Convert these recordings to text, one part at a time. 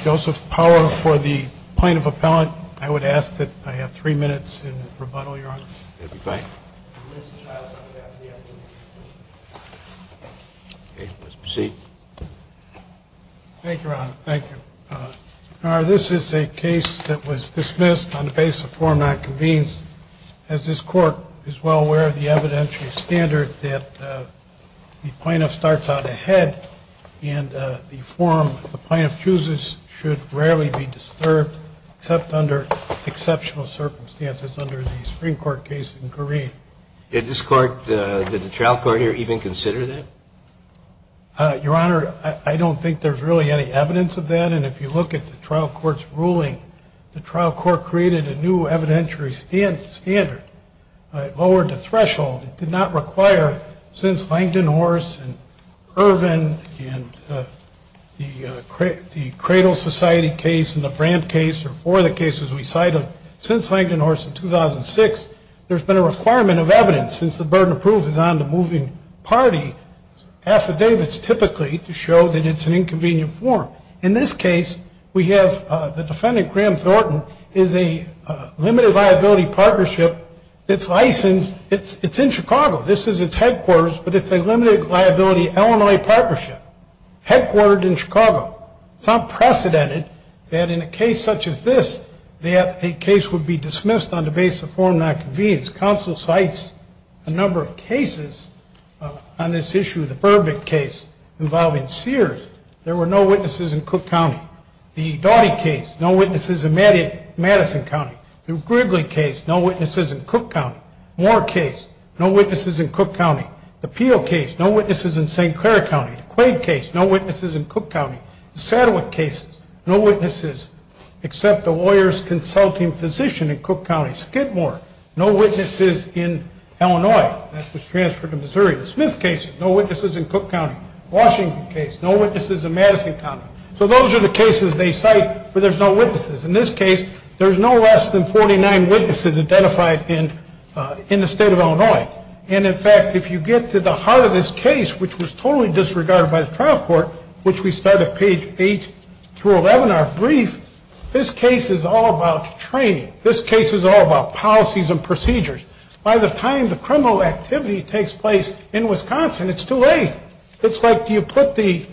Joseph Power for the plaintiff appellant. I would ask that I have three minutes in rebuttal, Your Honor. Okay. Let's proceed. Thank you, Your Honor. Thank you. Your Honor, this is a case that was dismissed on the basis of form not convened, as this court is well aware of the evidentiary standard that the plaintiff starts out ahead, and the form the plaintiff chooses should rarely be disturbed, except under exceptional circumstances under the Supreme Court guidelines. I would ask that I have three minutes in rebuttal, Your Honor. Thank you. Thank you, Your Honor. I would ask that I have three minutes in rebuttal, Your Honor. I would ask that I have three minutes in rebuttal, Your Honor. Thank you. The form not convened, counsel cites a number of cases on this issue. The Burbitt case involving Sears, there were no witnesses in Cook County. The Doughty case, no witnesses in Madison County. The Grigley case, no witnesses in Cook County. Moore case, no witnesses in Cook County. The Peel case, no witnesses in St. Clair County. The Quaid case, no witnesses in Cook County. The Saddwick case, no witnesses except a lawyer's consulting physician in Cook County. Skidmore, no witnesses in Illinois. That was transferred to Missouri. The Smith case, no witnesses in Cook County. The Washington case, no witnesses in Madison County. So those are the cases they cite where there's no witnesses. In this case, there's no less than 49 witnesses identified in the state of Illinois. And in fact, if you get to the heart of this case, which was totally disregarded by the trial court, which we start at page 8 through 11, our brief, this case is all about training. This case is all about policies and procedures. By the time the criminal activity takes place in Wisconsin, it's too late. It's like, do you put the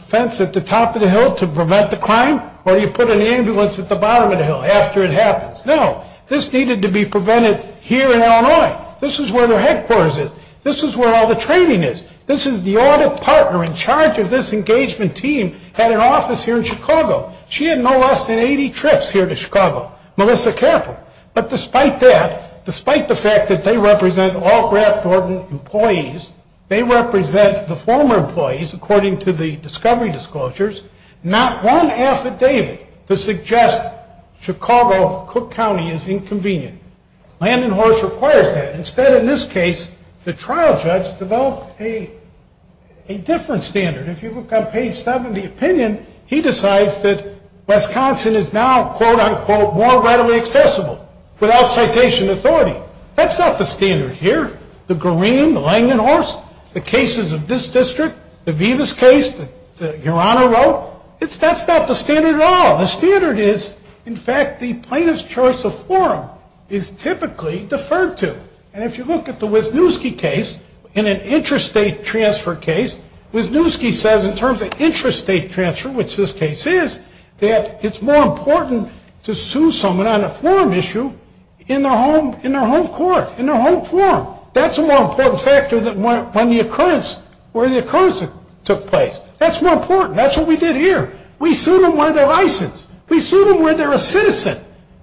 fence at the top of the hill to prevent the crime, or do you put an ambulance at the bottom of the hill after it happens? No, this needed to be prevented here in Illinois. This is where their headquarters is. This is where all the training is. This is the audit partner in charge of this engagement team at an office here in Chicago. She had no less than 80 trips here to Chicago, Melissa Capple. But despite that, despite the fact that they represent all Grant Thornton employees, they represent the former employees, according to the discovery disclosures, not one affidavit to suggest Chicago, Cook County is inconvenient. Land and Horse requires that. Instead, in this case, the trial judge developed a different standard. If you look on page 7 of the opinion, he decides that Wisconsin is now, quote, unquote, more readily accessible without citation authority. That's not the standard here. The cases of this district, the Vivas case that Your Honor wrote, that's not the standard at all. The standard is, in fact, the plaintiff's choice of forum is typically deferred to. And if you look at the Wisniewski case, in an interest state transfer case, Wisniewski says in terms of interest state transfer, which this case is, that it's more important to sue someone on a forum issue in their home court, in their home forum. That's a more important factor than when the occurrence, where the occurrence took place. That's more important. That's what we did here. We sued them where they're licensed. We sued them where they're a citizen.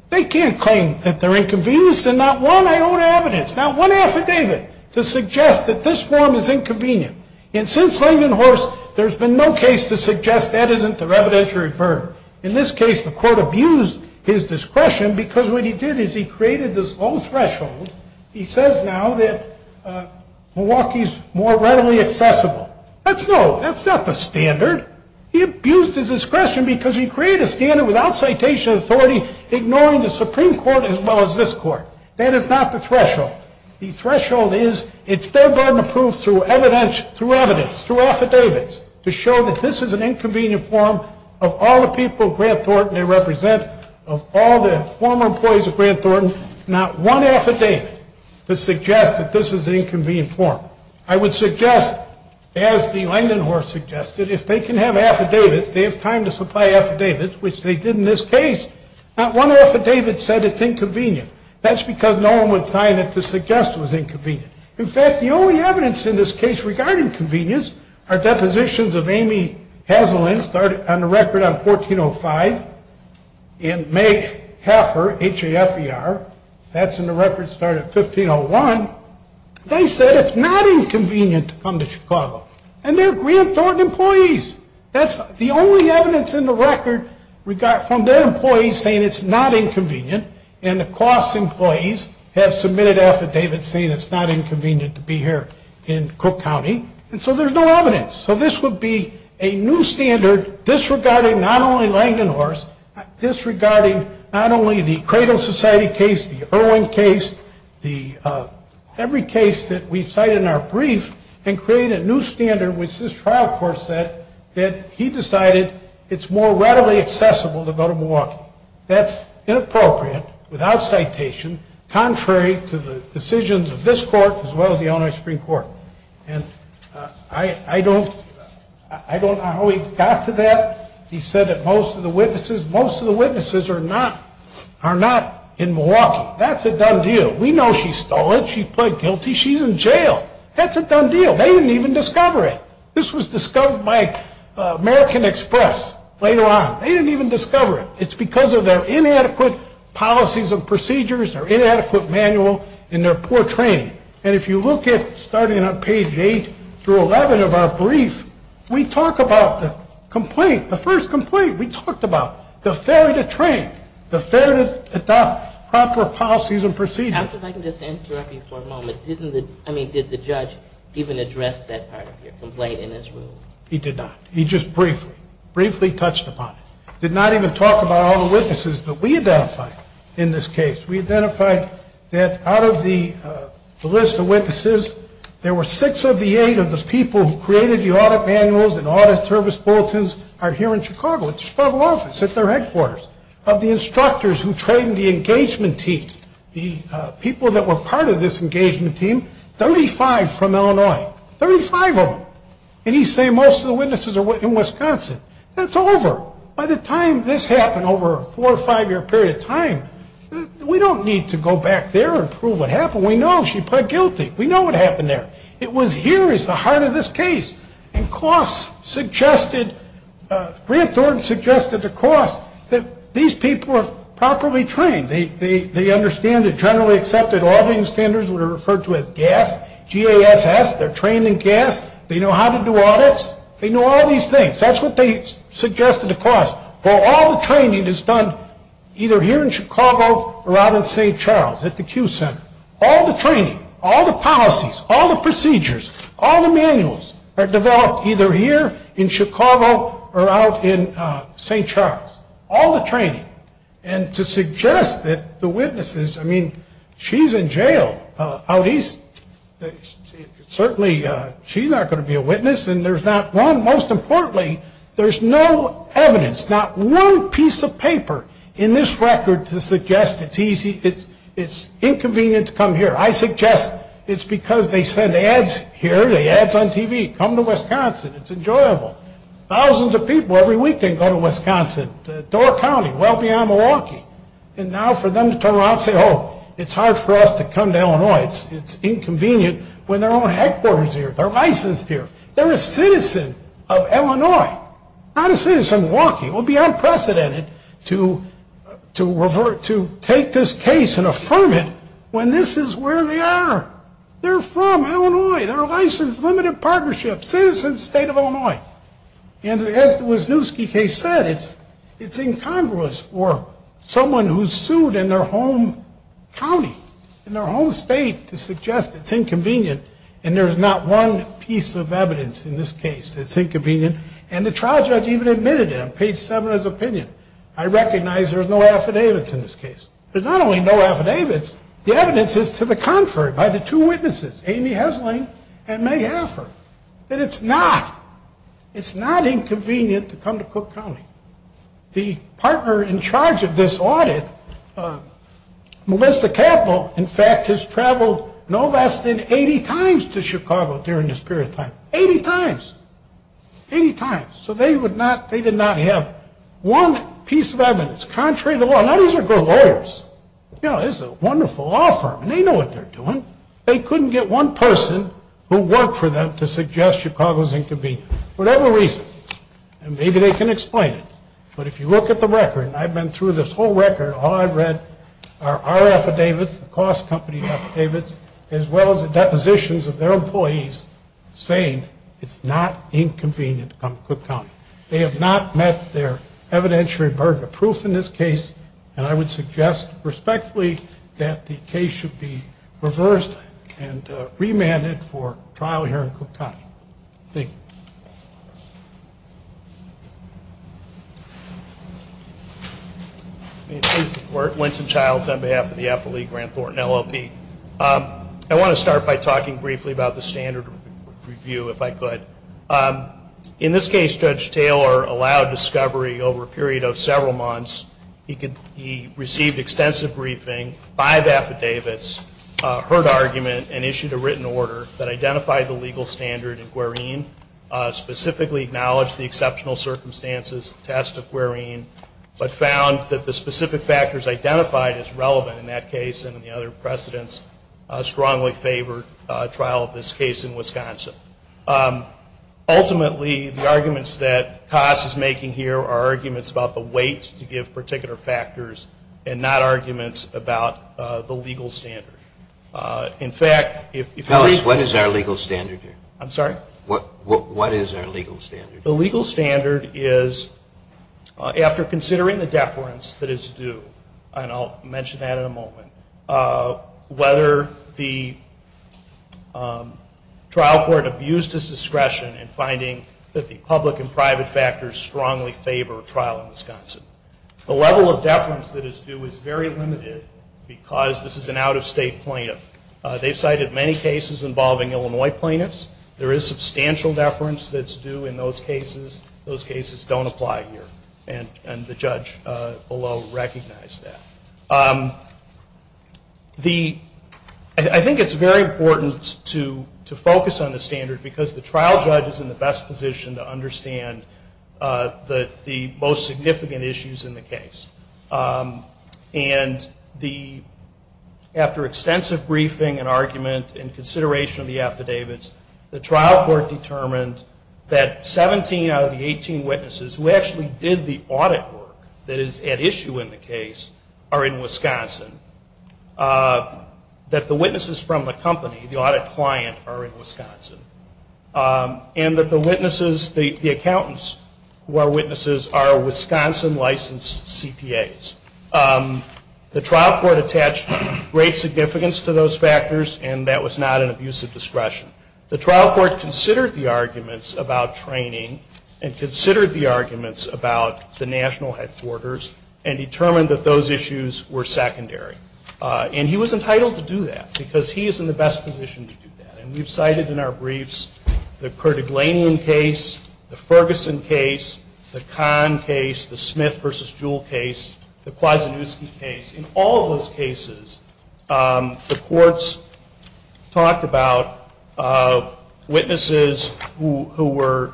They can't claim that they're inconvenienced, and not one iota of evidence, not one affidavit to suggest that this forum is inconvenient. And since Land and Horse, there's been no case to suggest that isn't their evidentiary burden. In this case, the court abused his discretion because what he did is he created this low threshold. He says now that Milwaukee is more readily accessible. That's low. That's not the standard. He abused his discretion because he created a standard without citation of authority, ignoring the Supreme Court as well as this court. That is not the threshold. The threshold is it's their burden to prove through evidence, through affidavits, to show that this is an inconvenient forum of all the people of Grant Thornton they represent, of all the former employees of Grant Thornton, not one affidavit to suggest that this is an inconvenient forum. I would suggest, as the Land and Horse suggested, if they can have affidavits, they have time to supply affidavits, which they did in this case. Not one affidavit said it's inconvenient. That's because no one would sign it to suggest it was inconvenient. In fact, the only evidence in this case regarding convenience are depositions of Amy Hazelin, started on the record on 1405, and Meg Haffer, H-A-F-E-R, that's in the record, started in 1501. They said it's not inconvenient to come to Chicago. And they're Grant Thornton employees. That's the only evidence in the record from their employees saying it's not inconvenient, and the Cross employees have submitted affidavits saying it's not inconvenient to be here in Cook County. And so there's no evidence. So this would be a new standard disregarding not only Langdon Horse, disregarding not only the Cradle Society case, the Irwin case, every case that we cite in our brief, and create a new standard, which this trial court said that he decided it's more readily accessible to go to Milwaukee. That's inappropriate, without citation, contrary to the decisions of this court as well as the Illinois Supreme Court. And I don't know how he got to that. He said that most of the witnesses are not in Milwaukee. That's a done deal. We know she stole it. She pled guilty. She's in jail. That's a done deal. They didn't even discover it. This was discovered by American Express later on. They didn't even discover it. It's because of their inadequate policies and procedures, their inadequate manual, and their poor training. And if you look at starting on page 8 through 11 of our brief, we talk about the complaint, the first complaint. We talked about the failure to train, the failure to adopt proper policies and procedures. Counsel, if I can just interrupt you for a moment. I mean, did the judge even address that part of your complaint in his ruling? He did not. He just briefly, briefly touched upon it. Did not even talk about all the witnesses that we identified in this case. We identified that out of the list of witnesses, there were six of the eight of the people who created the audit manuals and audit service bulletins are here in Chicago, at the Chicago office, at their headquarters. Of the instructors who trained the engagement team, the people that were part of this engagement team, 35 from Illinois. Thirty-five of them. And he's saying most of the witnesses are in Wisconsin. That's over. By the time this happened, over a four- or five-year period of time, we don't need to go back there and prove what happened. We know she pled guilty. We know what happened there. It was here is the heart of this case. And Klaus suggested, Grant Thornton suggested to Klaus that these people are properly trained. They understand the generally accepted auditing standards that are referred to as GASS, G-A-S-S. They're trained in GASS. They know how to do audits. They know all these things. That's what they suggested to Klaus. Well, all the training is done either here in Chicago or out in St. Charles at the Q Center. All the training, all the policies, all the procedures, all the manuals are developed either here in Chicago or out in St. Charles. All the training. And to suggest that the witnesses, I mean, she's in jail out east. Certainly she's not going to be a witness. And there's not one, most importantly, there's no evidence, not one piece of paper in this record to suggest it's easy, it's inconvenient to come here. I suggest it's because they send ads here, the ads on TV. Come to Wisconsin. It's enjoyable. Thousands of people every weekend go to Wisconsin, Door County, well beyond Milwaukee. And now for them to turn around and say, oh, it's hard for us to come to Illinois. It's inconvenient when their own headquarters are here. They're licensed here. They're a citizen of Illinois, not a citizen of Milwaukee. It would be unprecedented to take this case and affirm it when this is where they are. They're from Illinois. They're licensed, limited partnership, citizen state of Illinois. And as the Wisniewski case said, it's incongruous for someone who's sued in their home county, in their home state, to suggest it's inconvenient and there's not one piece of evidence in this case that's inconvenient. And the trial judge even admitted it on page seven of his opinion. I recognize there's no affidavits in this case. There's not only no affidavits, the evidence is to the contrary by the two witnesses, Amy Hesling and May Hafford, that it's not. It's not inconvenient to come to Cook County. The partner in charge of this audit, Melissa Capple, in fact, has traveled no less than 80 times to Chicago during this period of time. Eighty times. Eighty times. So they did not have one piece of evidence. Contrary to law. Now, these are good lawyers. You know, this is a wonderful law firm. They know what they're doing. They couldn't get one person who worked for them to suggest Chicago's inconvenient. For whatever reason. And maybe they can explain it. But if you look at the record, and I've been through this whole record, all I've read are our affidavits, the cost company affidavits, as well as the depositions of their employees saying it's not inconvenient to come to Cook County. They have not met their evidentiary burden of proof in this case. And I would suggest respectfully that the case should be reversed and remanded for trial here in Cook County. Thank you. May it please the Court. Wynton Childs on behalf of the Affiliate Grant Thornton LLP. I want to start by talking briefly about the standard review, if I could. In this case, Judge Taylor allowed discovery over a period of several months. He received extensive briefing, five affidavits, heard argument, and issued a written order that identified the legal standard in Quirine, specifically acknowledged the exceptional circumstances attest to Quirine, but found that the specific factors identified as relevant in that case and in the other precedents strongly favored trial of this case in Wisconsin. Ultimately, the arguments that COSS is making here are arguments about the weight to give particular factors and not arguments about the legal standard. In fact, if legal... Tell us, what is our legal standard here? I'm sorry? What is our legal standard? The legal standard is, after considering the deference that is due, and I'll mention that in a moment, whether the trial court abused its discretion in finding that the public and private factors strongly favor a trial in Wisconsin. The level of deference that is due is very limited because this is an out-of-state plaintiff. They've cited many cases involving Illinois plaintiffs. There is substantial deference that's due in those cases. Those cases don't apply here, and the judge below recognized that. I think it's very important to focus on the standard because the trial judge is in the best position to understand the most significant issues in the case. And after extensive briefing and argument and consideration of the affidavits, the trial court determined that 17 out of the 18 witnesses who actually did the audit work that is at issue in the case are in Wisconsin, that the witnesses from the company, the audit client, are in Wisconsin, and that the witnesses, the accountants who are witnesses, are Wisconsin-licensed CPAs. The trial court attached great significance to those factors, and that was not an abuse of discretion. The trial court considered the arguments about training and considered the arguments about the national headquarters and determined that those issues were secondary. And he was entitled to do that because he is in the best position to do that. And we've cited in our briefs the Kerdaglanian case, the Ferguson case, the Kahn case, the Smith v. Jewell case, the Kwasniewski case. In all of those cases, the courts talked about witnesses who were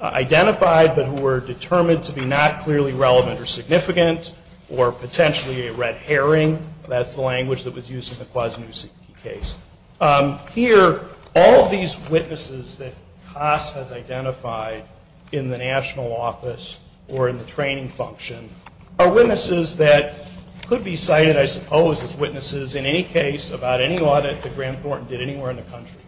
identified but who were determined to be not clearly relevant or significant or potentially a red herring. That's the language that was used in the Kwasniewski case. Here, all of these witnesses that COSS has identified in the national office or in the training function are witnesses that could be cited, I suppose, as witnesses in any case about any audit that Grant Thornton did anywhere in the country.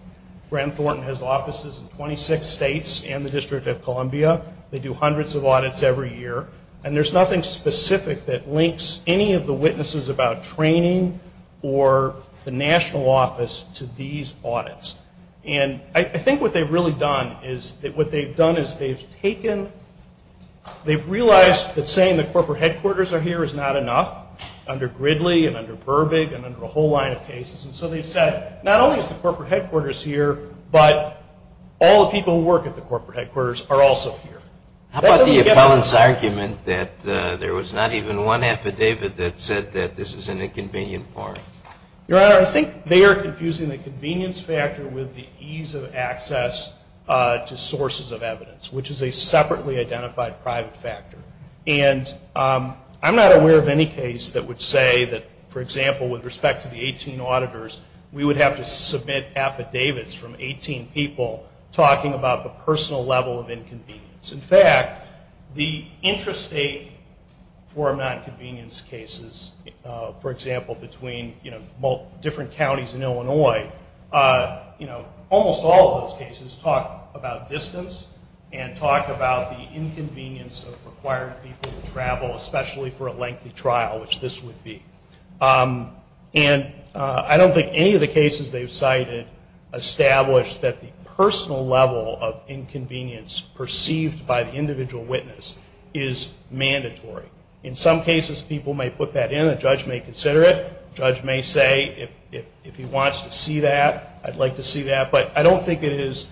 Grant Thornton has offices in 26 states and the District of Columbia. They do hundreds of audits every year. And there's nothing specific that links any of the witnesses about training or the national office to these audits. And I think what they've really done is they've realized that saying the corporate headquarters are here is not enough under Gridley and under Burbig and under a whole line of cases. And so they've said not only is the corporate headquarters here, but all the people who work at the corporate headquarters are also here. How about the appellant's argument that there was not even one affidavit that said that this is an inconvenient part? Your Honor, I think they are confusing the convenience factor with the ease of access to sources of evidence, which is a separately identified private factor. And I'm not aware of any case that would say that, for example, with respect to the 18 auditors, we would have to submit affidavits from 18 people talking about the personal level of inconvenience. In fact, the interest rate for nonconvenience cases, for example, between different counties in Illinois, you know, almost all of those cases talk about distance and talk about the inconvenience of requiring people to travel, especially for a lengthy trial, which this would be. And I don't think any of the cases they've cited establish that the personal level of inconvenience perceived by the individual witness is mandatory. In some cases, people may put that in. A judge may consider it. A judge may say, if he wants to see that, I'd like to see that. But I don't think it is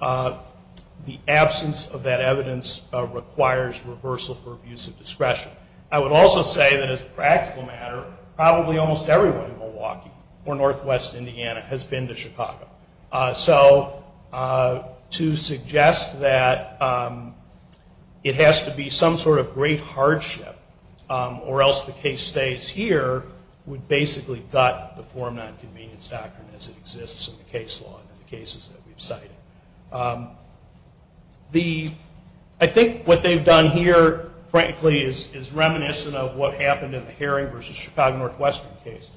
the absence of that evidence requires reversal for abuse of discretion. I would also say that as a practical matter, probably almost everyone in Milwaukee or northwest Indiana has been to Chicago. So to suggest that it has to be some sort of great hardship, or else the case stays here would basically gut the form nonconvenience doctrine as it exists in the case law and the cases that we've cited. I think what they've done here, frankly, is reminiscent of what happened in the Herring v. Chicago Northwestern case,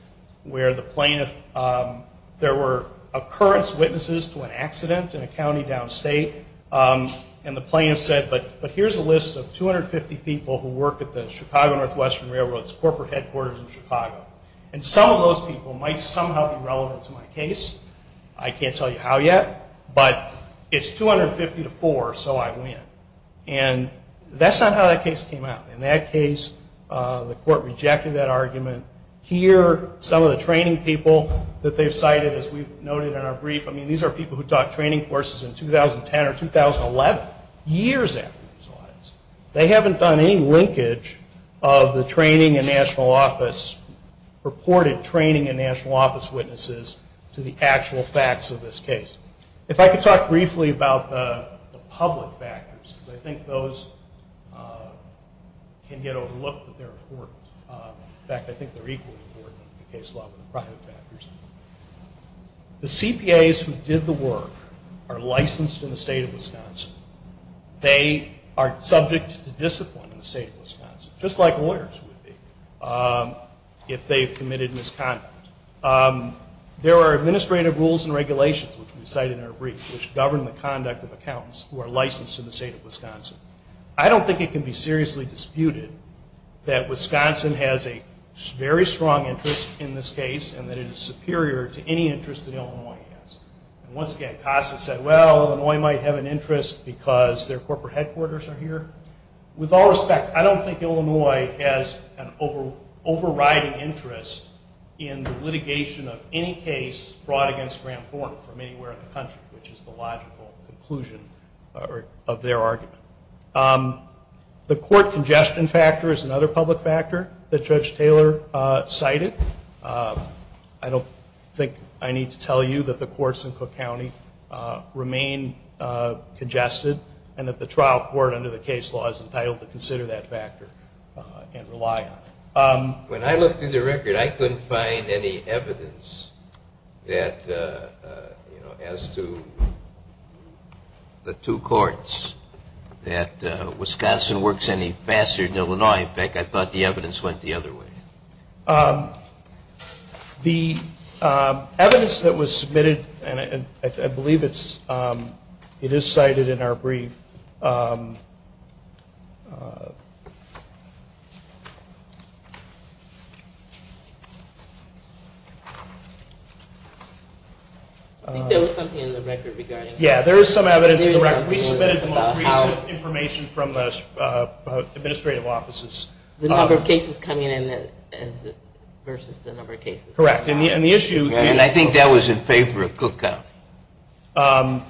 where the plaintiff, there were occurrence witnesses to an accident in a county downstate, and the plaintiff said, but here's a list of 250 people who work at the Chicago Northwestern Railroad's corporate headquarters in Chicago. And some of those people might somehow be relevant to my case. I can't tell you how yet, but it's 250 to four, so I win. And that's not how that case came out. In that case, the court rejected that argument. Here, some of the training people that they've cited, as we've noted in our brief, I mean, these are people who taught training courses in 2010 or 2011, years after this. They haven't done any linkage of the training and national office, purported training and national office witnesses to the actual facts of this case. If I could talk briefly about the public factors, because I think those can get overlooked, but they're important. In fact, I think they're equally important in the case law with the private factors. The CPAs who did the work are licensed in the state of Wisconsin. They are subject to discipline in the state of Wisconsin, just like lawyers would be if they've committed misconduct. There are administrative rules and regulations, which we cite in our brief, which govern the conduct of accountants who are licensed in the state of Wisconsin. I don't think it can be seriously disputed that Wisconsin has a very strong interest in this case and that it is superior to any interest that Illinois has. Once again, CASA said, well, Illinois might have an interest because their corporate headquarters are here. With all respect, I don't think Illinois has an overriding interest in the litigation of any case brought against Grant Horne from anywhere in the country, which is the logical conclusion of their argument. The court congestion factor is another public factor that Judge Taylor cited. I don't think I need to tell you that the courts in Cook County remain congested and that the trial court under the case law is entitled to consider that factor and rely on it. When I looked through the record, I couldn't find any evidence as to the two courts that Wisconsin works any faster than Illinois. In fact, I thought the evidence went the other way. The evidence that was submitted, and I believe it is cited in our brief. Yeah, there is some evidence in the record. We submitted the most recent information from the administrative offices. The number of cases coming in versus the number of cases. Correct. And I think that was in favor of Cook County.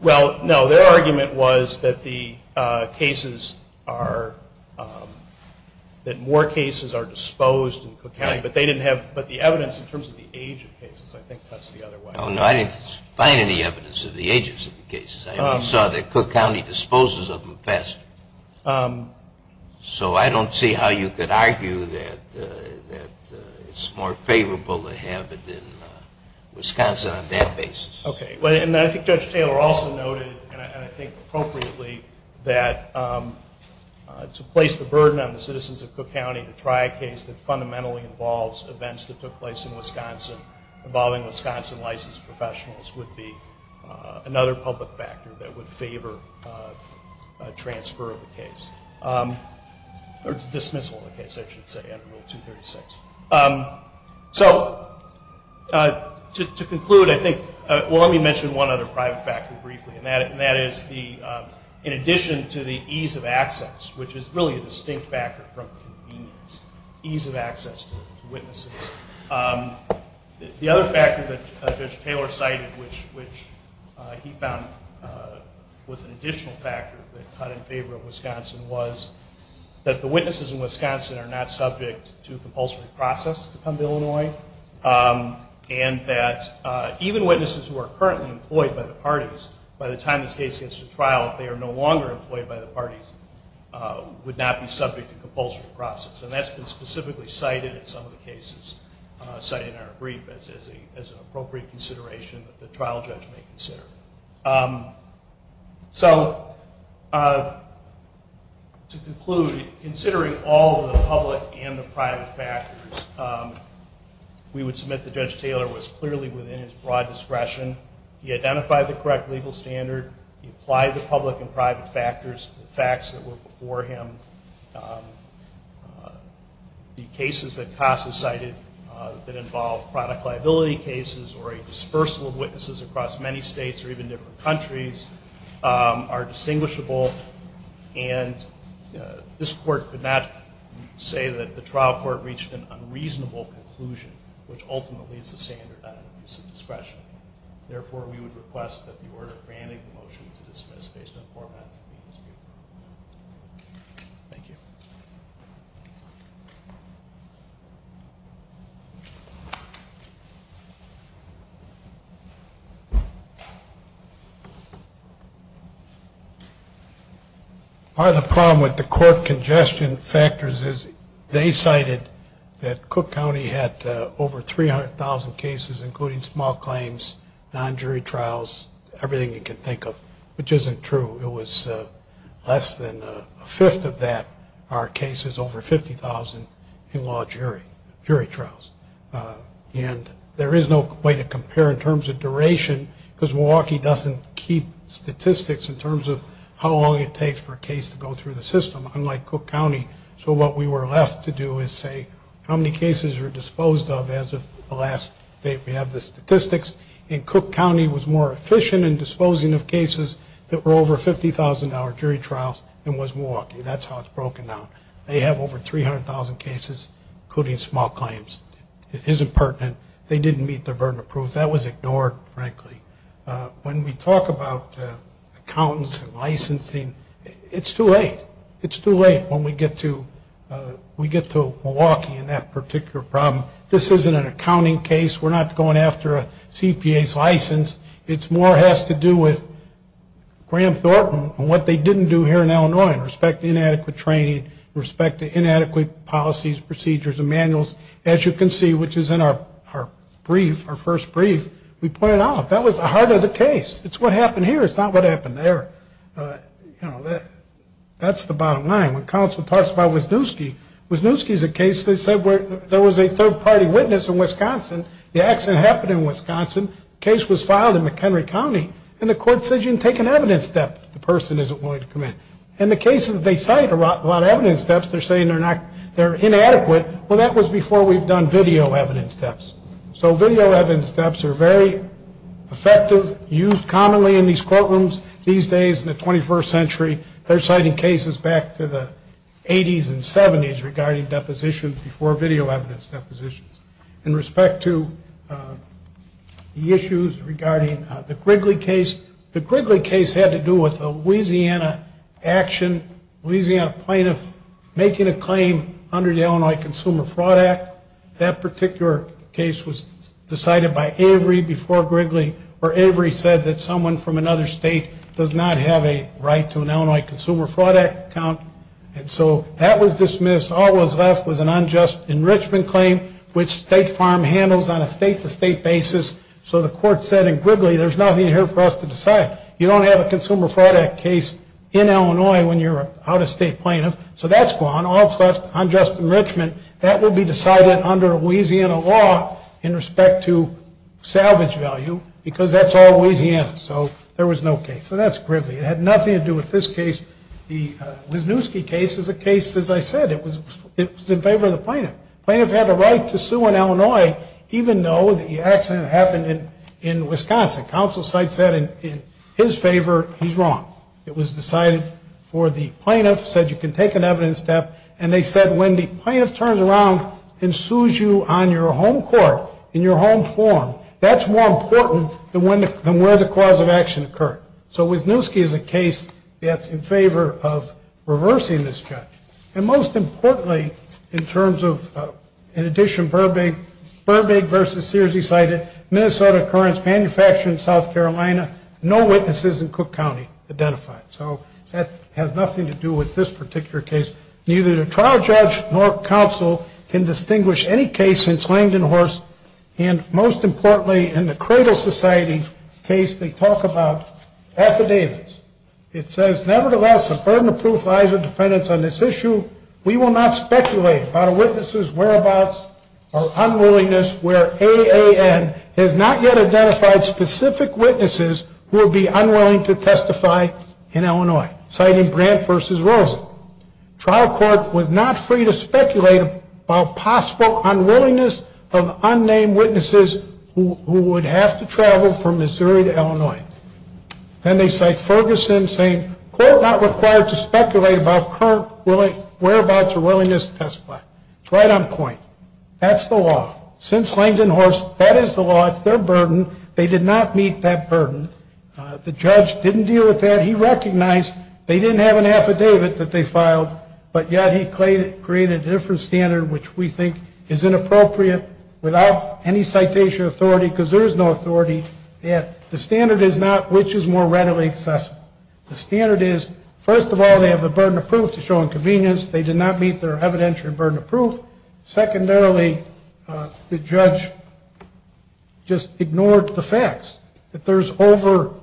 Well, no. Their argument was that more cases are disposed in Cook County, but the evidence in terms of the age of cases, I think that's the other way. Oh, no. I didn't find any evidence of the ages of the cases. I only saw that Cook County disposes of them faster. So I don't see how you could argue that it's more favorable to have it in Wisconsin on that basis. Okay. And I think Judge Taylor also noted, and I think appropriately, that to place the burden on the citizens of Cook County to try a case that fundamentally involves events that took place in Wisconsin involving Wisconsin licensed professionals would be another public factor that would favor a transfer of the case, or dismissal of the case, I should say, under Rule 236. So to conclude, I think, well, let me mention one other private factor briefly, and that is in addition to the ease of access, which is really a distinct factor from convenience, ease of access to witnesses. The other factor that Judge Taylor cited, which he found was an additional factor that cut in favor of Wisconsin, was that the witnesses in Wisconsin are not subject to compulsory process to come to Illinois, and that even witnesses who are currently employed by the parties, by the time this case gets to trial, if they are no longer employed by the parties, would not be subject to compulsory process. And that's been specifically cited in some of the cases cited in our brief as an appropriate consideration that the trial judge may consider. So to conclude, considering all of the public and the private factors, we would submit that Judge Taylor was clearly within his broad discretion. He identified the correct legal standard. He applied the public and private factors to the facts that were before him. The cases that CASA cited that involved product liability cases or a dispersal of witnesses across many states or even different countries are distinguishable, and this Court could not say that the trial court reached an unreasonable conclusion, which ultimately is the standard of discretion. Therefore, we would request that the order granting the motion to dismiss based on format. Thank you. Part of the problem with the court congestion factors is they cited that Cook County had over 300,000 cases, including small claims, non-jury trials, everything you can think of, which isn't true. It was less than a fifth of that are cases over 50,000 in law jury, jury trials. And there is no way to compare in terms of duration, because Milwaukee doesn't keep statistics in terms of how long it takes for a case to go through the system, unlike Cook County. So what we were left to do is say how many cases were disposed of as of the last date. We have the statistics, and Cook County was more efficient in disposing of cases that were over 50,000 in our jury trials than was Milwaukee. That's how it's broken down. They have over 300,000 cases, including small claims. It isn't pertinent. They didn't meet their burden of proof. That was ignored, frankly. When we talk about accountants and licensing, it's too late. It's too late when we get to Milwaukee and that particular problem. This isn't an accounting case. We're not going after a CPA's license. It more has to do with Graham Thornton and what they didn't do here in Illinois in respect to inadequate training, respect to inadequate policies, procedures, and manuals. As you can see, which is in our brief, our first brief, we point it out. That was the heart of the case. It's what happened here. It's not what happened there. That's the bottom line. When counsel talks about Wisniewski, Wisniewski is a case, they said, where there was a third-party witness in Wisconsin. The accident happened in Wisconsin. The case was filed in McHenry County, and the court said you can take an evidence step if the person isn't willing to commit. In the cases they cite about evidence steps, they're saying they're inadequate. Well, that was before we've done video evidence steps. So video evidence steps are very effective, used commonly in these courtrooms these days in the 21st century. They're citing cases back to the 80s and 70s regarding depositions before video evidence depositions. In respect to the issues regarding the Grigley case, the Grigley case had to do with a Louisiana action, Louisiana plaintiff making a claim under the Illinois Consumer Fraud Act. That particular case was decided by Avery before Grigley, where Avery said that someone from another state does not have a right to an Illinois Consumer Fraud Act account. And so that was dismissed. All that was left was an unjust enrichment claim, which State Farm handles on a state-to-state basis. So the court said, in Grigley, there's nothing here for us to decide. You don't have a Consumer Fraud Act case in Illinois when you're an out-of-state plaintiff. So that's gone. All that's left is unjust enrichment. That will be decided under Louisiana law in respect to salvage value, because that's all Louisiana. So there was no case. So that's Grigley. It had nothing to do with this case. The Wisniewski case is a case, as I said, it was in favor of the plaintiff. The plaintiff had a right to sue in Illinois, even though the accident happened in Wisconsin. Counsel cites that in his favor. He's wrong. It was decided for the plaintiff, said you can take an evidence step. And they said when the plaintiff turns around and sues you on your home court, in your home forum, that's more important than where the cause of action occurred. So Wisniewski is a case that's in favor of reversing this judge. And most importantly, in terms of, in addition, Burbank versus Sears, he cited Minnesota occurrence, manufacturing in South Carolina, no witnesses in Cook County identified. So that has nothing to do with this particular case. Neither the trial judge nor counsel can distinguish any case since Langdon Horse. And most importantly, in the Cradle Society case, they talk about affidavits. It says, nevertheless, a burden of proof lies with defendants on this issue. We will not speculate about a witness's whereabouts or unwillingness where AAN has not yet in Illinois, citing Brandt versus Rosen. Trial court was not free to speculate about possible unwillingness of unnamed witnesses who would have to travel from Missouri to Illinois. And they cite Ferguson saying, court not required to speculate about current whereabouts or willingness to testify. It's right on point. That's the law. Since Langdon Horse, that is the law. It's their burden. They did not meet that burden. The judge didn't deal with that. He recognized they didn't have an affidavit that they filed, but yet he created a different standard which we think is inappropriate without any citation authority because there is no authority. The standard is not which is more readily accessible. The standard is, first of all, they have the burden of proof to show inconvenience. They did not meet their evidentiary burden of proof. Secondarily, the judge just ignored the facts that there's over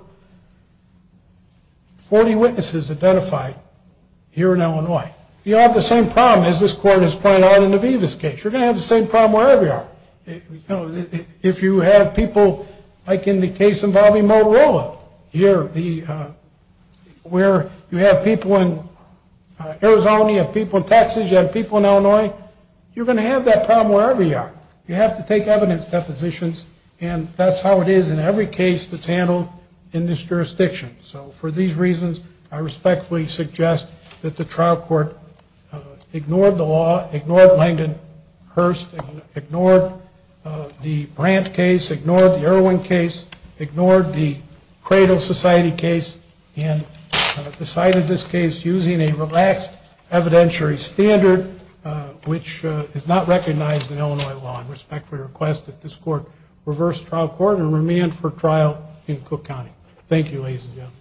40 witnesses identified here in Illinois. You have the same problem as this court has pointed out in the Vivas case. You're going to have the same problem wherever you are. If you have people like in the case involving Motorola here where you have people in Arizona, you have people in Texas, you have people in Illinois, you're going to have that problem wherever you are. You have to take evidence depositions, and that's how it is in every case that's handled in this jurisdiction. So for these reasons, I respectfully suggest that the trial court ignored the law, ignored Langdon Hearst, ignored the Brandt case, ignored the Irwin case, ignored the Cradle Society case, and decided this case using a relaxed evidentiary standard which is not recognized in Illinois law. I respectfully request that this court reverse trial court and remand for trial in Cook County. Thank you, ladies and gentlemen.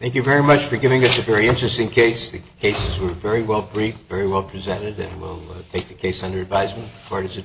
Thank you very much for giving us a very interesting case. The cases were very well briefed, very well presented, and we'll take the case under advisement. Court is adjourned.